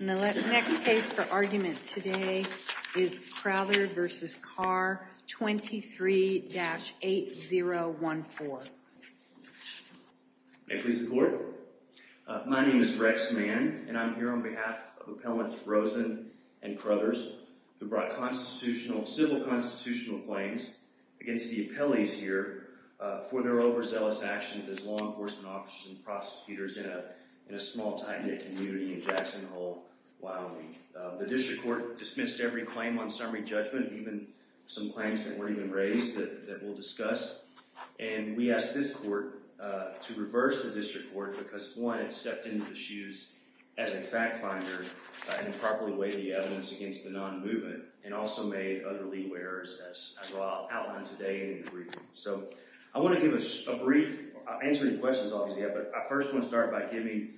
The next case for argument today is Crowther v. Carr, 23-8014. May I please have the floor? My name is Rex Mann, and I'm here on behalf of Appellants Rosen and Crothers, who brought civil constitutional claims against the appellees here for their overzealous actions as law enforcement officers and prosecutors in a small tight-knit community in Jackson Hole, Wyoming. The district court dismissed every claim on summary judgment, even some claims that weren't even raised that we'll discuss. And we asked this court to reverse the district court because, one, it stepped into the shoes as a fact finder by improperly weighing the evidence against the non-movement and also made other lead wearers, as I'll outline today in the briefing. So I want to give a brief answer to questions, obviously, but I first want to start by giving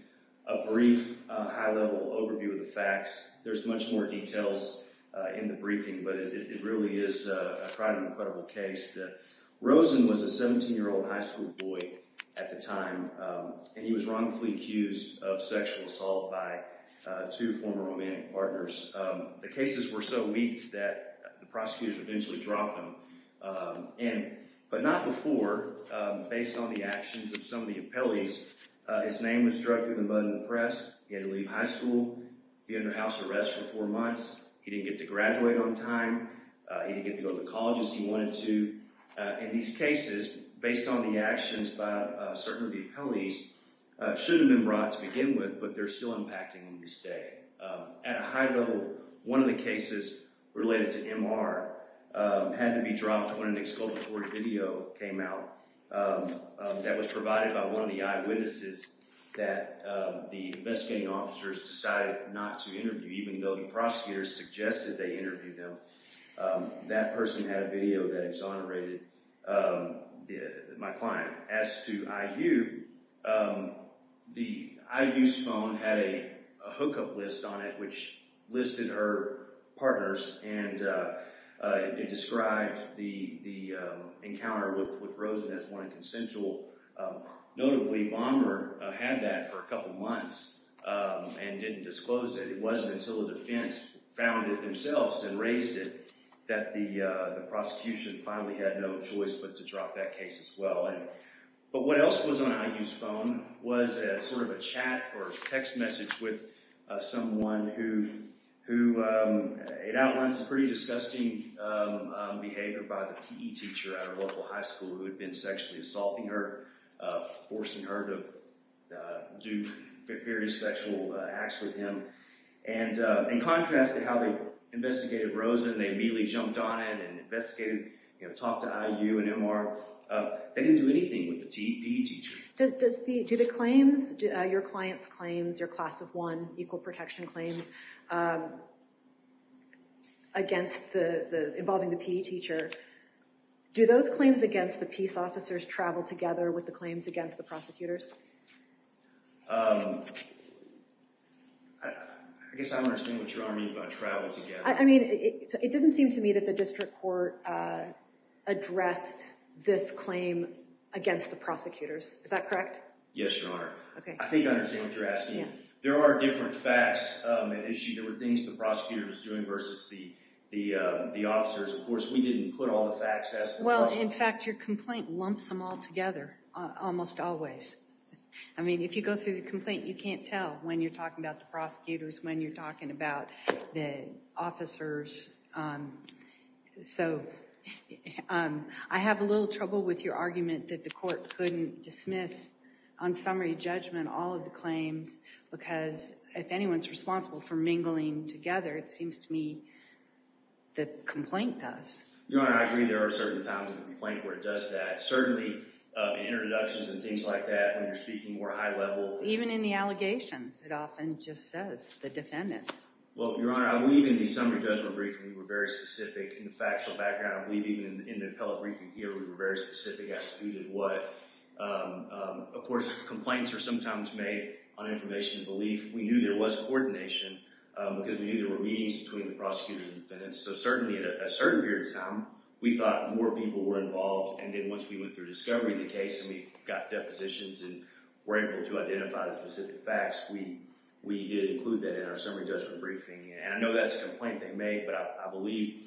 a brief, high-level overview of the facts. There's much more details in the briefing, but it really is quite an incredible case. Rosen was a 17-year-old high school boy at the time, and he was wrongfully accused of sexual assault by two former romantic partners. The cases were so weak that the prosecutors eventually dropped them. But not before, based on the actions of some of the appellees, his name was drugged through the mud in the press, he had to leave high school, be under house arrest for four months, he didn't get to graduate on time, he didn't get to go to the colleges he wanted to. In these cases, based on the actions by certain of the appellees, it should have been brought to begin with, but they're still impacting him to this day. At a high level, one of the cases related to MR had to be dropped when an exculpatory video came out that was provided by one of the eyewitnesses that the investigating officers decided not to interview, even though the prosecutors suggested they interview them. That person had a video that exonerated my client. As to IU, IU's phone had a hookup list on it which listed her partners and it described the encounter with Rosen as one consensual. Notably, Bomber had that for a couple months and didn't disclose it. It wasn't until the defense found it themselves and raised it that the prosecution finally had no choice but to drop that case as well. What else was on IU's phone was a chat or text message with someone who outlines a pretty disgusting behavior by the PE teacher at a local high school who had been sexually assaulting her, forcing her to do various sexual acts with him. In contrast to how they investigated Rosen, they immediately jumped on it and investigated, talked to IU and MR. They didn't do anything with the PE teacher. Do the claims, your client's claims, your class of one equal protection claims involving the PE teacher, do those claims against the peace officers travel together with the claims against the prosecutors? I guess I don't understand what you mean by travel together. It doesn't seem to me that the district court addressed this claim against the prosecutors. Is that correct? Yes, Your Honor. I think I understand what you're asking. There are different facts and issues. There were things the prosecutor was doing versus the officers. Of course, we didn't put all the facts. In fact, your complaint lumps them all together almost always. If you go through the complaint, you can't tell when you're talking about the prosecutors, when you're talking about the officers. I have a little trouble with your argument that the court couldn't dismiss on summary judgment all of the claims because if anyone's responsible for mingling together, it seems to me the complaint does. Your Honor, I agree there are certain times in the complaint where it does that. Certainly, in introductions and things like that, when you're speaking more high level. Even in the allegations, it often just says the defendants. Your Honor, I believe in the summary judgment briefing, we were very specific in the factual background. I believe even in the appellate briefing here, we were very specific as to who did what. Of course, complaints are sometimes made on information and belief. We knew there was coordination because we knew there were meetings between the prosecutors and defendants. Certainly, at a certain period of time, we thought more people were involved. Once we went through discovery of the case and we got depositions and were able to identify the specific facts, we did include that in our summary judgment briefing. I know that's a complaint they made, but I believe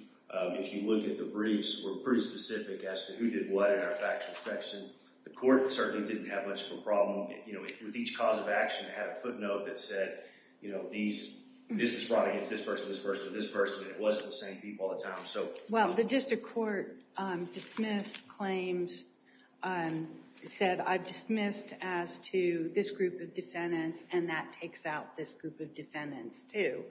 if you look at the briefs, we're pretty specific as to who did what in our factual section. The court certainly didn't have much of a problem. With each cause of action, it had a footnote that said, this is brought against this person, this person, this person. It wasn't the same people all the time. Well, the district court dismissed claims and said, I've dismissed as to this group of defendants and that takes out this group of defendants, too.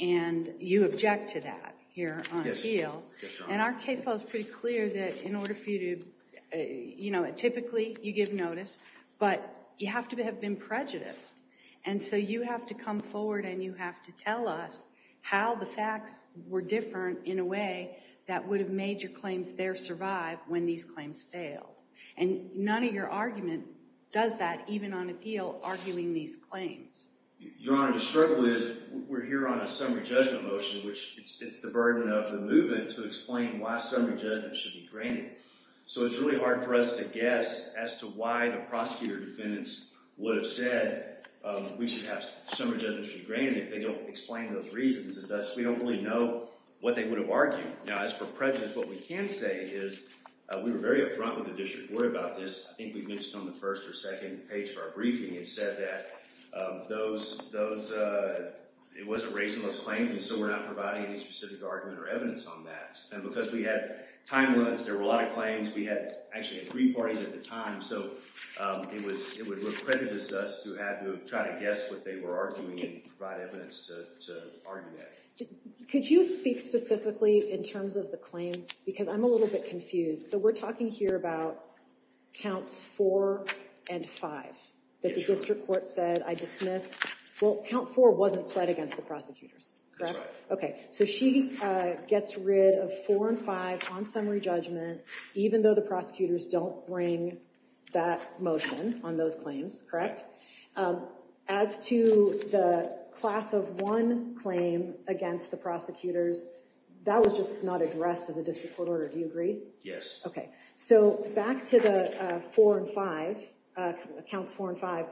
And you object to that here on appeal. And our case law is pretty clear that in order for you to, you know, typically you give notice, but you have to have been prejudiced. And so you have to come forward and you have to tell us how the facts were different in a way that would have made your claims there survive when these claims failed. And none of your argument does that, even on appeal, arguing these claims. Your Honor, the struggle is we're here on a summary judgment motion, which it's the burden of the movement to explain why summary judgment should be granted. So it's really hard for us to guess as to why the prosecutor defendants would have said, we should have summary judgment should be granted if they don't explain those reasons. And thus, we don't really know what they would have argued. Now, as for prejudice, what we can say is we were very upfront with the district court about this. I think we mentioned on the first or second page of our briefing, it said that those, it wasn't raising those claims and so we're not providing any specific argument or evidence on that. And because we had time limits, there were a lot of claims. We actually had three parties at the time. So it would have prejudiced us to try to guess what they were arguing and provide evidence to argue that. Could you speak specifically in terms of the claims? Because I'm a little bit confused. So we're talking here about counts four and five that the district court said, I dismiss. Well, count four wasn't pled against the prosecutors, correct? That's right. Okay, so she gets rid of four and five on summary judgment, even though the prosecutors don't bring that motion on those claims, correct? As to the class of one claim against the prosecutors, that was just not addressed in the district court order. Do you agree? Yes. Okay. So back to the four and five, counts four and five.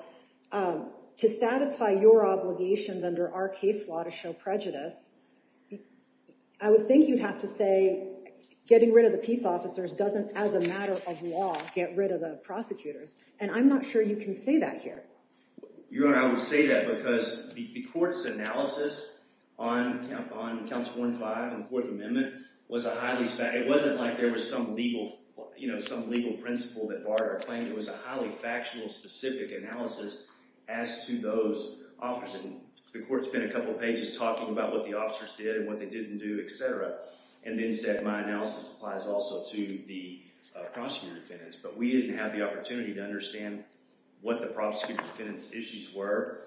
To satisfy your obligations under our case law to show prejudice, I would think you'd have to say getting rid of the peace officers doesn't, as a matter of law, get rid of the prosecutors. And I'm not sure you can say that here. Your Honor, I would say that because the court's analysis on counts four and five in the Fourth Amendment was a highly, it wasn't like there was some legal principle that barred our claims. It was a highly factual, specific analysis as to those officers. And the court spent a couple pages talking about what the officers did and what they didn't do, et cetera, and then said my analysis applies also to the prosecutor defendants. But we didn't have the opportunity to understand what the prosecutor defendants' issues were,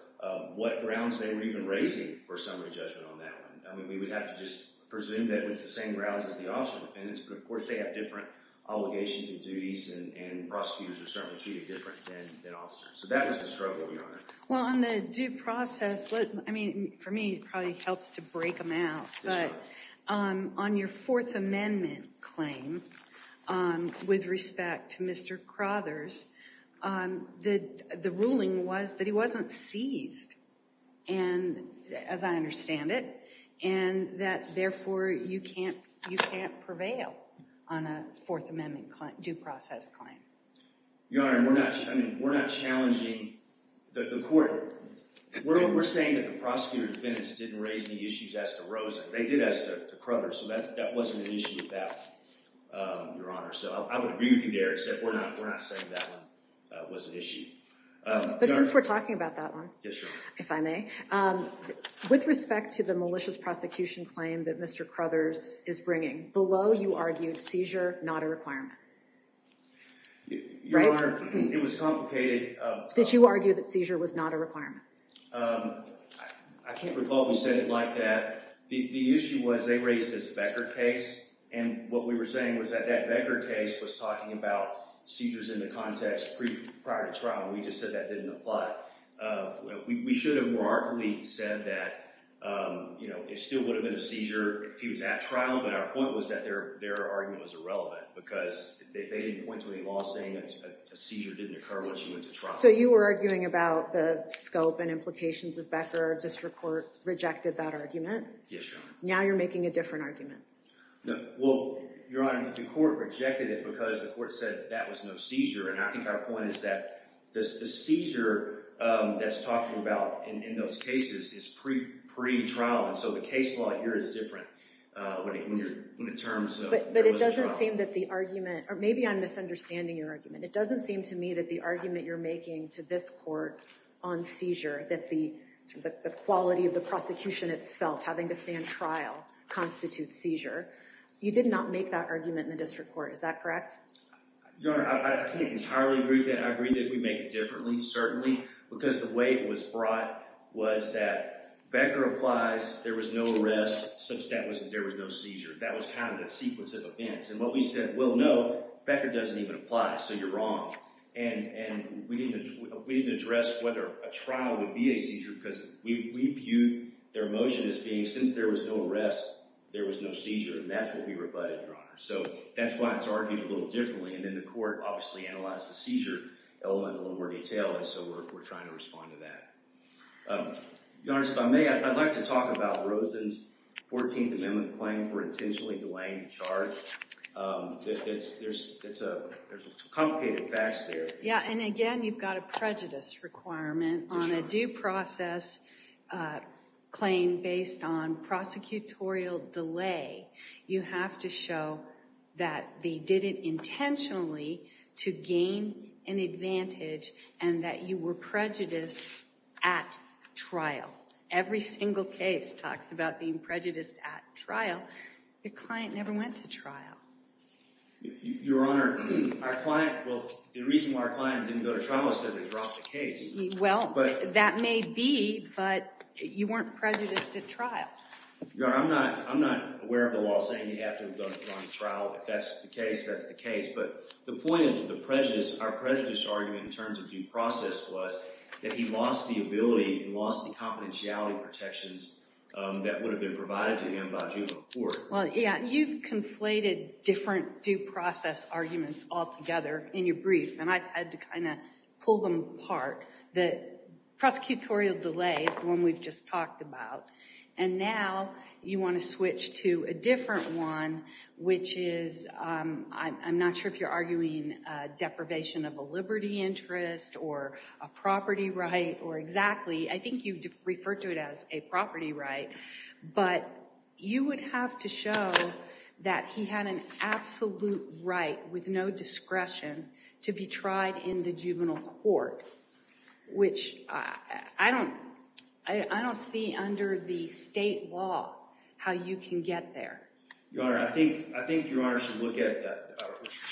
what grounds they were even raising for summary judgment on that one. We would have to just presume that it was the same grounds as the officer defendants. But, of course, they have different obligations and duties, and prosecutors are certainly treated differently than officers. So that was the struggle, Your Honor. Well, on the due process, I mean, for me, it probably helps to break them out. That's right. But on your Fourth Amendment claim, with respect to Mr. Crothers, the ruling was that he wasn't seized. And, as I understand it, and that, therefore, you can't prevail on a Fourth Amendment due process claim. Your Honor, we're not challenging the court. We're saying that the prosecutor defendants didn't raise any issues as to Rosen. They did as to Crothers, so that wasn't an issue with that one, Your Honor. So I would agree with you there, except we're not saying that one was an issue. But since we're talking about that one. Yes, Your Honor. If I may. With respect to the malicious prosecution claim that Mr. Crothers is bringing, below you argued seizure not a requirement. Your Honor, it was complicated. Did you argue that seizure was not a requirement? I can't recall if we said it like that. The issue was they raised this Becker case, and what we were saying was that that Becker case was talking about seizures in the context prior to trial. We just said that didn't apply. We should have more artfully said that it still would have been a seizure if he was at trial, but our point was that their argument was irrelevant because they didn't point to any law saying that a seizure didn't occur when he went to trial. So you were arguing about the scope and implications of Becker. District Court rejected that argument. Yes, Your Honor. Now you're making a different argument. Well, Your Honor, the court rejected it because the court said that was no seizure. And I think our point is that the seizure that's talked about in those cases is pre-trial, and so the case law here is different when it comes to when he was at trial. But it doesn't seem that the argument—or maybe I'm misunderstanding your argument. It doesn't seem to me that the argument you're making to this court on seizure, that the quality of the prosecution itself having to stand trial constitutes seizure, you did not make that argument in the district court. Is that correct? Your Honor, I can't entirely agree with that. I agree that we make it differently, certainly, because the way it was brought was that Becker applies, there was no arrest, substantiating that there was no seizure. That was kind of the sequence of events. And what we said, well, no, Becker doesn't even apply, so you're wrong. And we didn't address whether a trial would be a seizure because we viewed their motion as being since there was no arrest, there was no seizure. And that's what we rebutted, Your Honor. So that's why it's argued a little differently. And then the court obviously analyzed the seizure element in a little more detail, and so we're trying to respond to that. Your Honor, if I may, I'd like to talk about Rosen's 14th Amendment claim for intentionally delaying the charge. There's some complicated facts there. Yeah, and again, you've got a prejudice requirement. On a due process claim based on prosecutorial delay, you have to show that they did it intentionally to gain an advantage and that you were prejudiced at trial. Every single case talks about being prejudiced at trial. Your client never went to trial. Your Honor, our client, well, the reason why our client didn't go to trial was because they dropped the case. Well, that may be, but you weren't prejudiced at trial. Your Honor, I'm not aware of the law saying you have to go to trial. If that's the case, that's the case. But the point of the prejudice, our prejudice argument in terms of due process was that he lost the ability and lost the confidentiality protections that would have been provided to him by juvenile court. Well, yeah, you've conflated different due process arguments altogether in your brief, and I had to kind of pull them apart. The prosecutorial delay is the one we've just talked about. And now you want to switch to a different one, which is, I'm not sure if you're arguing deprivation of a liberty interest or a property right or exactly. I think you referred to it as a property right. But you would have to show that he had an absolute right with no discretion to be tried in the juvenile court, which I don't see under the state law how you can get there. Your Honor, I think Your Honor should look at that.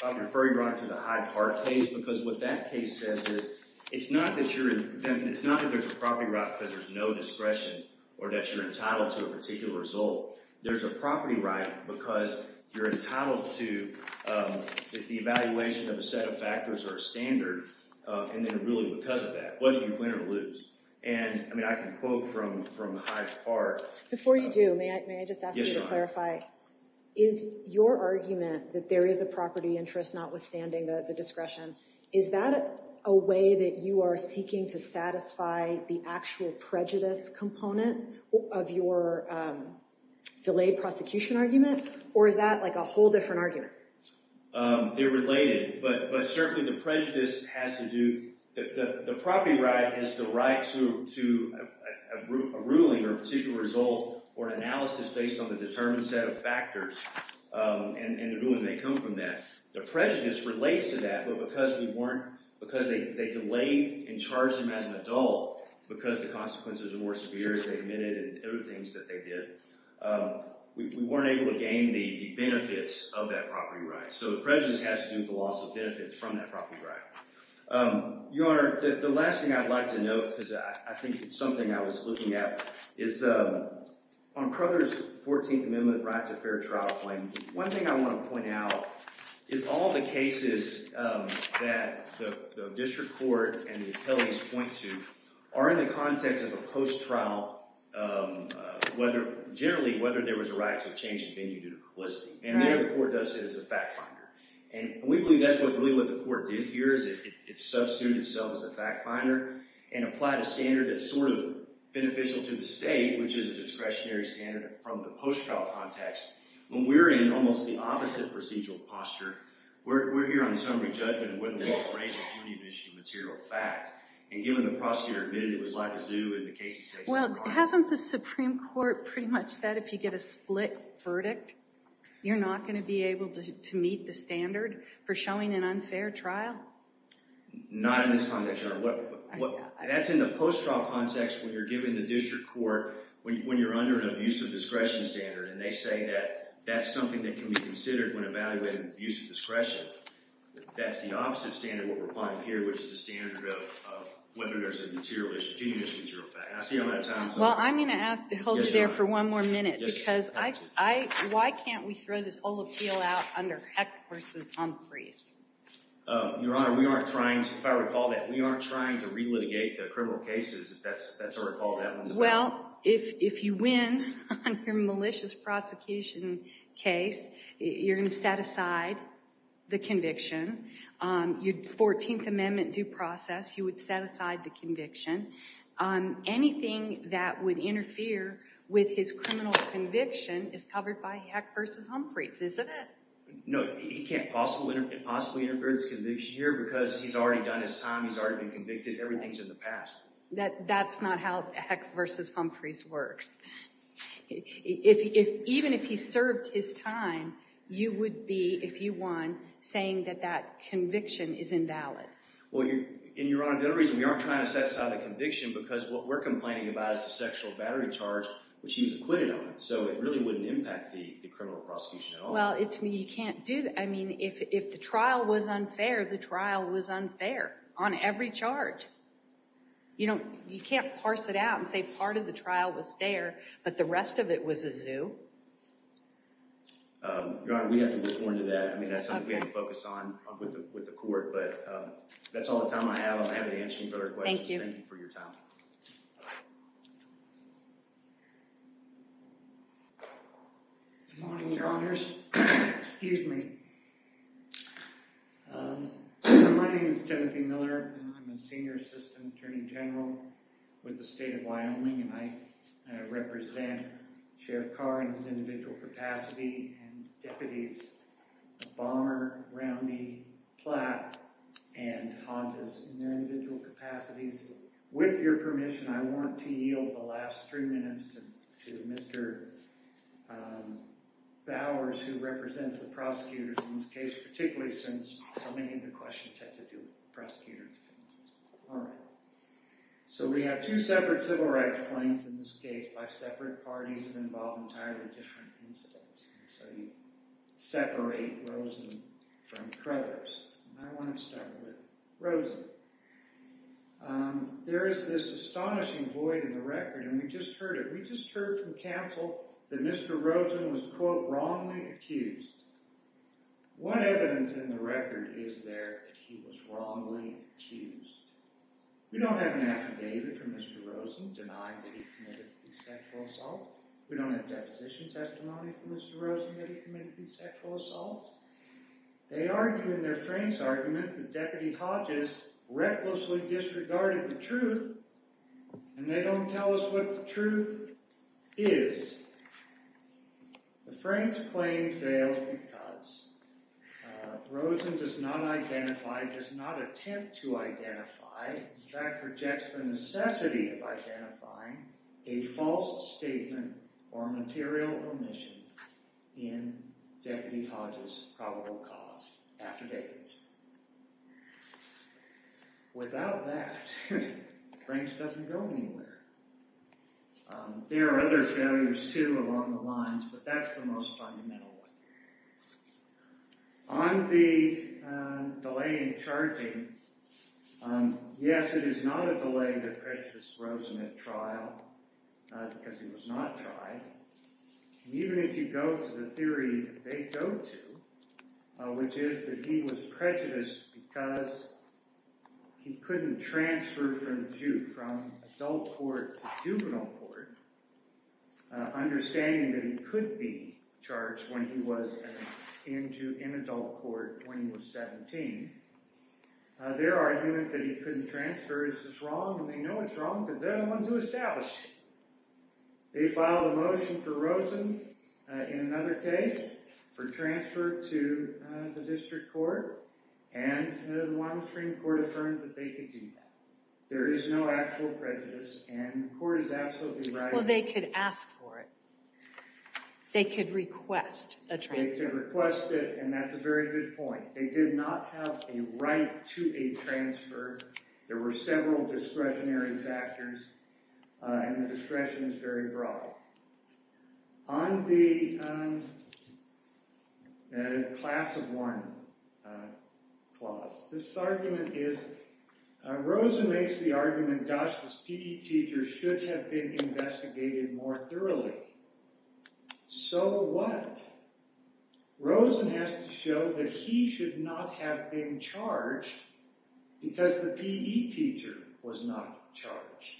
I'll refer Your Honor to the Hyde Park case, because what that case says is it's not that there's a property right because there's no discretion or that you're entitled to a particular result. There's a property right because you're entitled to the evaluation of a set of factors or a standard, and then really because of that, whether you win or lose. And I mean, I can quote from Hyde Park. Before you do, may I just ask you to clarify, is your argument that there is a property interest notwithstanding the discretion, is that a way that you are seeking to satisfy the actual prejudice component of your delayed prosecution argument? Or is that like a whole different argument? They're related. But certainly the prejudice has to do – the property right is the right to a ruling or a particular result or an analysis based on the determined set of factors, and the ruling may come from that. The prejudice relates to that, but because we weren't – because they delayed and charged him as an adult because the consequences were more severe as they admitted and other things that they did, we weren't able to gain the benefits of that property right. So the prejudice has to do with the loss of benefits from that property right. Your Honor, the last thing I'd like to note, because I think it's something I was looking at, is on Crothers' 14th Amendment right to fair trial claim, one thing I want to point out is all the cases that the district court and the appellees point to are in the context of a post-trial – generally, whether there was a right to a change in venue due to publicity. And there the court does it as a fact finder. And we believe that's really what the court did here is it substituted itself as a fact finder and applied a standard that's sort of beneficial to the state, which is a discretionary standard from the post-trial context. When we're in almost the opposite procedural posture, we're here on summary judgment and whether we can raise a duty of issue material fact. Well, hasn't the Supreme Court pretty much said if you get a split verdict, you're not going to be able to meet the standard for showing an unfair trial? Not in this context, Your Honor. That's in the post-trial context when you're given the district court, when you're under an abuse of discretion standard. And they say that that's something that can be considered when evaluating abuse of discretion. That's the opposite standard we're applying here, which is a standard of whether there's a duty of issue material fact. I see I'm out of time. Well, I'm going to ask to hold you there for one more minute, because why can't we throw this whole appeal out under Heck v. Humphreys? Your Honor, we aren't trying to, if I recall that, we aren't trying to relitigate the criminal cases, if that's how I recall that one. Well, if you win on your malicious prosecution case, you're going to set aside the conviction. Your 14th Amendment due process, you would set aside the conviction. Anything that would interfere with his criminal conviction is covered by Heck v. Humphreys, isn't it? No, it can't possibly interfere with his conviction here because he's already done his time, he's already been convicted, everything's in the past. That's not how Heck v. Humphreys works. Even if he served his time, you would be, if you won, saying that that conviction is invalid. Well, Your Honor, the only reason we aren't trying to set aside the conviction is because what we're complaining about is the sexual battery charge, which he's acquitted on. So it really wouldn't impact the criminal prosecution at all. Well, you can't do that. I mean, if the trial was unfair, the trial was unfair on every charge. You can't parse it out and say part of the trial was fair, but the rest of it was a zoo. Your Honor, we'd have to look more into that. I mean, that's something we can't focus on with the court. But that's all the time I have. I'm happy to answer any further questions. Thank you. Thank you for your time. Good morning, Your Honors. Excuse me. My name is Timothy Miller. I'm a senior assistant attorney general with the state of Wyoming, and I represent Sheriff Carr in his individual capacity, and deputies Bomber, Roundy, Platt, and Hondas in their individual capacities. With your permission, I want to yield the last three minutes to Mr. Bowers, who represents the prosecutors in this case, particularly since so many of the questions had to do with prosecutor defenses. All right. So we have two separate civil rights claims in this case by separate parties involved in entirely different incidents. And so you separate Rosen from Crothers. And I want to start with Rosen. There is this astonishing void in the record, and we just heard it. We just heard from counsel that Mr. Rosen was, quote, wrongly accused. What evidence in the record is there that he was wrongly accused? We don't have an affidavit from Mr. Rosen denying that he committed the sexual assault. We don't have deposition testimony from Mr. Rosen that he committed these sexual assaults. They argue in their Franks argument that Deputy Hodges recklessly disregarded the truth, and they don't tell us what the truth is. The Franks claim fails because Rosen does not identify, does not attempt to identify, in fact, rejects the necessity of identifying a false statement or material omission in Deputy Hodges' probable cause affidavit. Without that, Franks doesn't go anywhere. There are other failures, too, along the lines, but that's the most fundamental one. On the delay in charging, yes, it is not a delay that prejudiced Rosen at trial because he was not tried. Even if you go to the theory that they go to, which is that he was prejudiced because he couldn't transfer from adult court to juvenile court, understanding that he could be charged when he was in adult court when he was 17, their argument that he couldn't transfer is just wrong, and they know it's wrong because they're the ones who established it. They filed a motion for Rosen in another case for transfer to the district court, and the Wyoming Supreme Court affirmed that they could do that. There is no actual prejudice, and the court is absolutely right. Well, they could ask for it. They could request a transfer. They could request it, and that's a very good point. They did not have a right to a transfer. There were several discretionary factors, and the discretion is very broad. On the class of one clause, this argument is Rosen makes the argument, gosh, this PE teacher should have been investigated more thoroughly. So what? Rosen has to show that he should not have been charged because the PE teacher was not charged.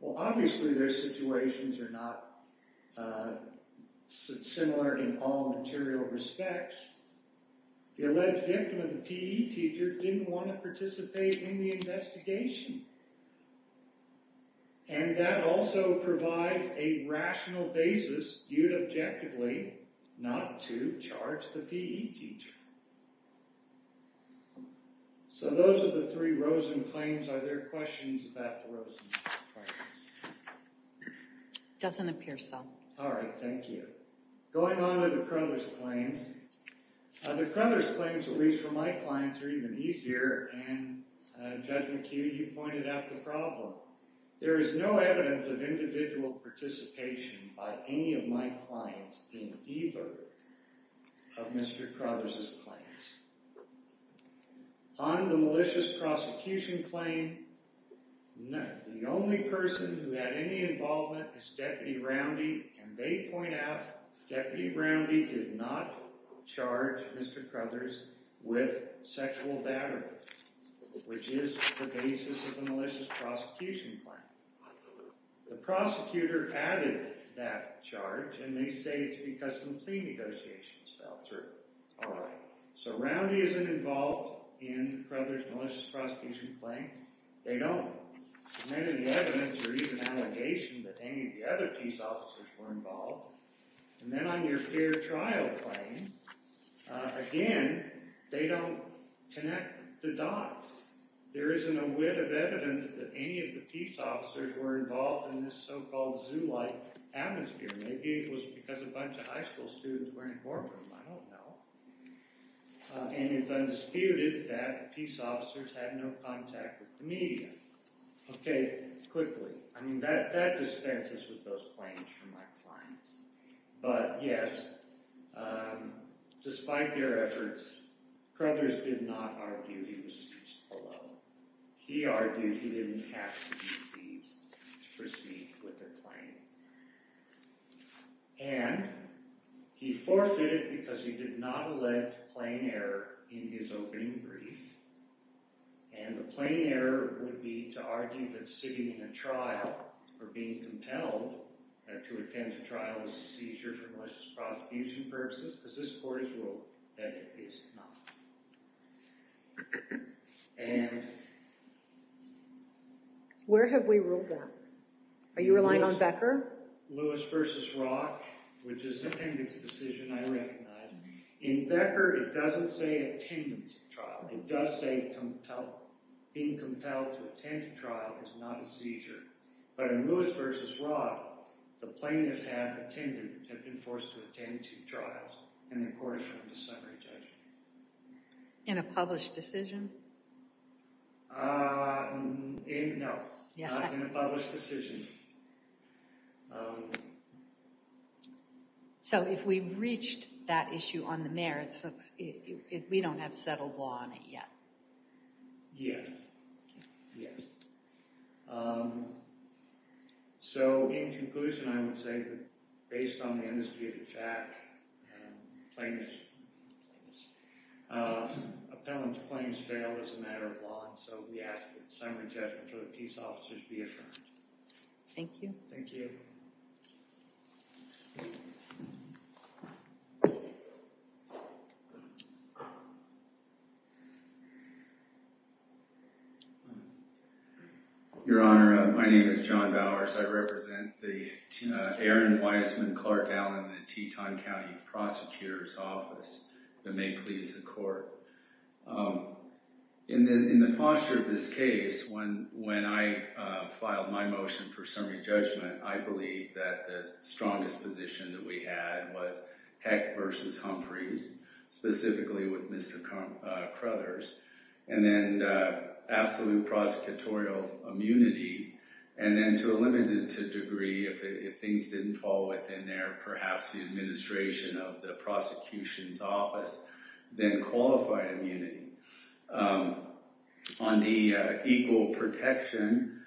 Well, obviously their situations are not similar in all material respects. The alleged victim of the PE teacher didn't want to participate in the investigation, and that also provides a rational basis. You'd objectively not to charge the PE teacher. So those are the three Rosen claims. Are there questions about the Rosen claims? Doesn't appear so. All right. Thank you. Going on to the Crothers claims. The Crothers claims, at least for my clients, are even easier, and, Judge McHugh, you pointed out the problem. There is no evidence of individual participation by any of my clients in either of Mr. Crothers' claims. On the malicious prosecution claim, the only person who had any involvement is Deputy Roundy, and they point out Deputy Roundy did not charge Mr. Crothers with sexual battery, which is the basis of the malicious prosecution claim. The prosecutor added that charge, and they say it's because some plea negotiations fell through. All right. So Roundy isn't involved in Crothers' malicious prosecution claim. They don't. There isn't any evidence or even allegation that any of the other peace officers were involved. And then on your fair trial claim, again, they don't connect the dots. There isn't a whit of evidence that any of the peace officers were involved in this so-called zoo-like atmosphere. Maybe it was because a bunch of high school students were in the courtroom. I don't know. And it's undisputed that the peace officers had no contact with the media. Okay. Quickly. I mean, that dispenses with those claims from my clients. But, yes, despite their efforts, Crothers did not argue he was seized below. He argued he didn't have to be seized to proceed with the claim. And he forfeited because he did not allege plain error in his opening brief. And the plain error would be to argue that sitting in a trial or being compelled to attend a trial is a seizure for malicious prosecution purposes, because this court has ruled that it is not. And... Where have we ruled that? Are you relying on Becker? Lewis v. Roth, which is an attendance decision, I recognize. In Becker, it doesn't say attendance trial. It does say compelled. Being compelled to attend a trial is not a seizure. But in Lewis v. Roth, the plaintiffs have been forced to attend two trials, and the court is from the summary judgment. In a published decision? No. Not in a published decision. So if we reached that issue on the merits, we don't have settled law on it yet. Yes. Yes. So in conclusion, I would say that based on the indisputed facts, plaintiffs' appellants' claims failed as a matter of law, and so we ask that the summary judgment for the peace officers be affirmed. Thank you. Thank you. Thank you. Your Honor, my name is John Bowers. I represent the Aaron Weissman Clark Allen, the Teton County Prosecutor's Office, that may please the court. In the posture of this case, when I filed my motion for summary judgment, I believe that the strongest position that we had was Heck v. Humphreys, specifically with Mr. Crothers, and then absolute prosecutorial immunity, and then to a limited degree, if things didn't fall within their, perhaps, the administration of the prosecution's office, then qualified immunity. On the equal protection,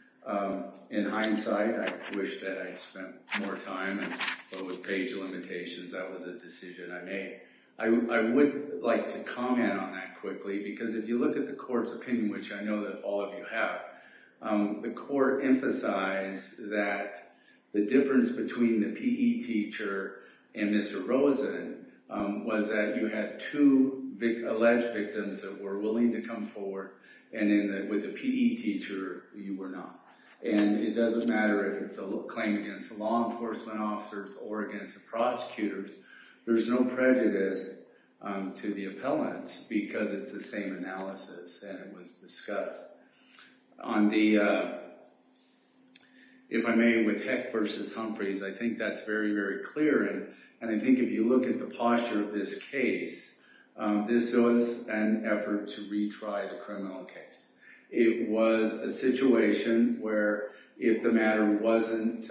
in hindsight, I wish that I'd spent more time, but with page limitations, that was a decision I made. I would like to comment on that quickly, because if you look at the court's opinion, which I know that all of you have, the court emphasized that the difference between the P.E. teacher and Mr. Rosen was that you had two alleged victims that were willing to come forward, and with the P.E. teacher, you were not. And it doesn't matter if it's a claim against the law enforcement officers or against the prosecutors. There's no prejudice to the appellants, because it's the same analysis, and it was discussed. On the, if I may, with Heck v. Humphreys, I think that's very, very clear, and I think if you look at the posture of this case, this was an effort to retry the criminal case. It was a situation where if the matter wasn't,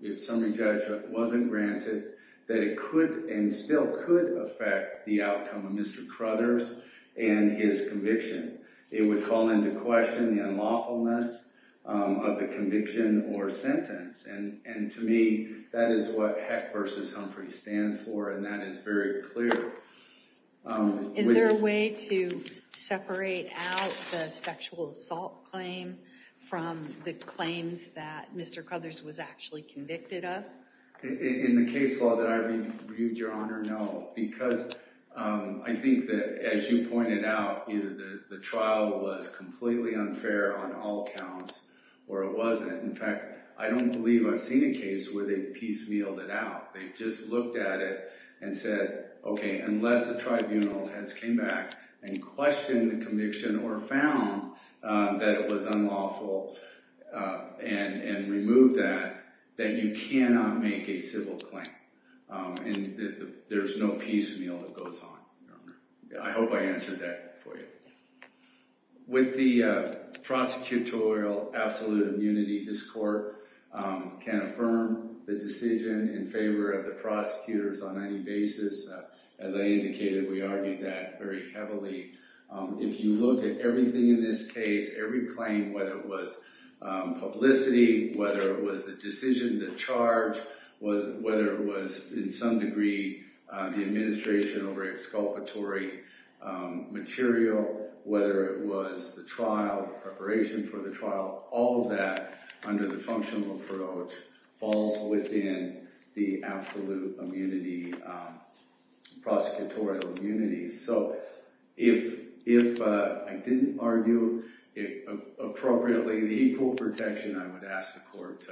if summary judgment wasn't granted, that it could and still could affect the outcome of Mr. Crothers and his conviction. It would call into question the unlawfulness of the conviction or sentence, and to me, that is what Heck v. Humphreys stands for, and that is very clear. Is there a way to separate out the sexual assault claim from the claims that Mr. Crothers was actually convicted of? In the case law that I reviewed, Your Honor, no, because I think that, as you pointed out, the trial was completely unfair on all counts, or it wasn't. In fact, I don't believe I've seen a case where they've piecemealed it out. They've just looked at it and said, okay, unless the tribunal has came back and questioned the conviction or found that it was unlawful and removed that, that you cannot make a civil claim, and there's no piecemeal that goes on, Your Honor. I hope I answered that for you. With the prosecutorial absolute immunity, this court can affirm the decision in favor of the prosecutors on any basis. As I indicated, we argued that very heavily. If you look at everything in this case, every claim, whether it was publicity, whether it was the decision, the charge, whether it was, in some degree, the administration over exculpatory material, whether it was the trial, the preparation for the trial, all of that under the functional approach falls within the absolute immunity, prosecutorial immunity. So if I didn't argue it appropriately, the equal protection, I would ask the court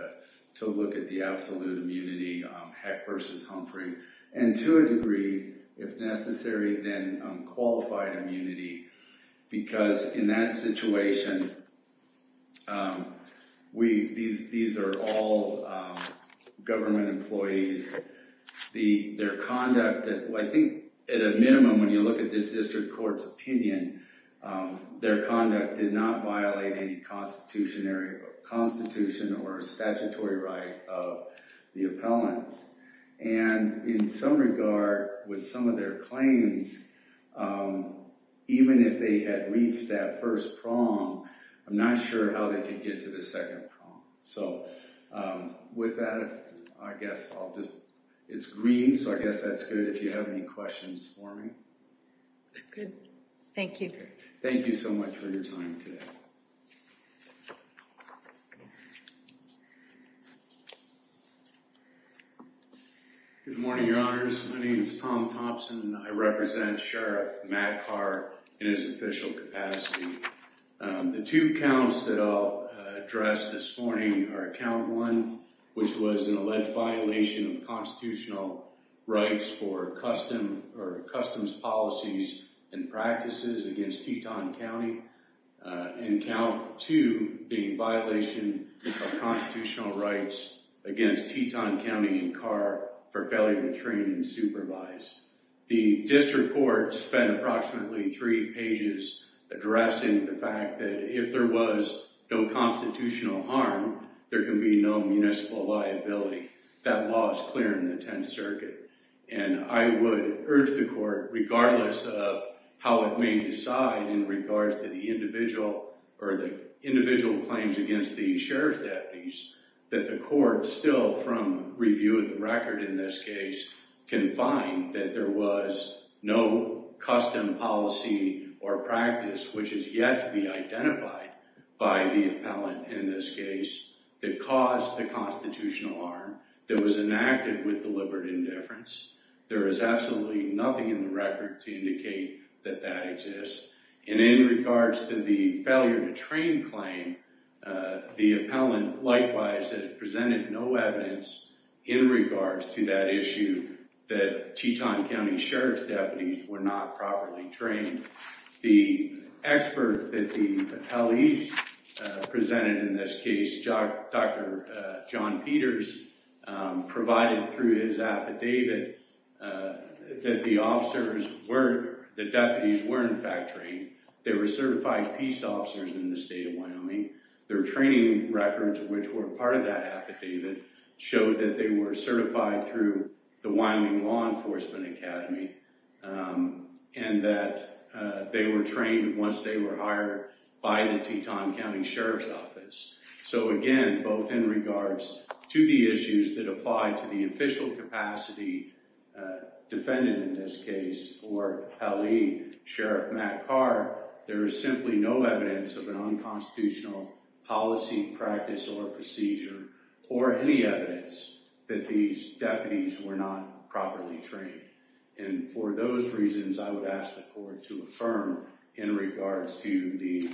to look at the absolute immunity, Heck versus Humphrey, and to a degree, if necessary, then qualified immunity, because in that situation, these are all government employees. Their conduct, I think at a minimum, when you look at the district court's opinion, their conduct did not violate any constitution or statutory right of the appellants. And in some regard, with some of their claims, even if they had reached that first prong, I'm not sure how they could get to the second prong. So with that, I guess I'll just, it's green, so I guess that's good if you have any questions for me. Good. Thank you. Thank you so much for your time today. Good morning, Your Honors. My name is Tom Thompson, and I represent Sheriff Matt Carr in his official capacity. The two counts that I'll address this morning are count one, which was an alleged violation of constitutional rights for customs policies and practices against Teton County, and count two being violation of constitutional rights against Teton County and Carr for failure to train and supervise. The district court spent approximately three pages addressing the fact that if there was no constitutional harm, there can be no municipal liability. That law is clear in the Tenth Circuit. And I would urge the court, regardless of how it may decide in regards to the individual claims against the sheriff's deputies, that the court still, from review of the record in this case, can find that there was no custom policy or practice, which has yet to be identified by the appellant in this case, that caused the constitutional harm, that was enacted with deliberate indifference. There is absolutely nothing in the record to indicate that that exists. And in regards to the failure to train claim, the appellant likewise has presented no evidence in regards to that issue, that Teton County Sheriff's deputies were not properly trained. The expert that the appellees presented in this case, Dr. John Peters, provided through his affidavit that the officers were, the deputies were in fact trained. They were certified peace officers in the state of Wyoming. Their training records, which were part of that affidavit, showed that they were certified through the Wyoming Law Enforcement Academy and that they were trained once they were hired by the Teton County Sheriff's Office. So again, both in regards to the issues that apply to the official capacity defendant in this case, or Hallie Sheriff Matt Carr, there is simply no evidence of an unconstitutional policy, practice, or procedure, or any evidence that these deputies were not properly trained. And for those reasons, I would ask the court to affirm in regards to the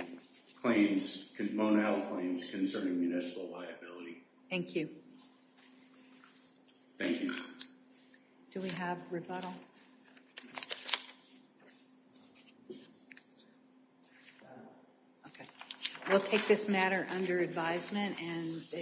claims, Mona Health claims concerning municipal liability. Thank you. Thank you. Do we have rebuttal? Okay. We'll take this matter under advisement.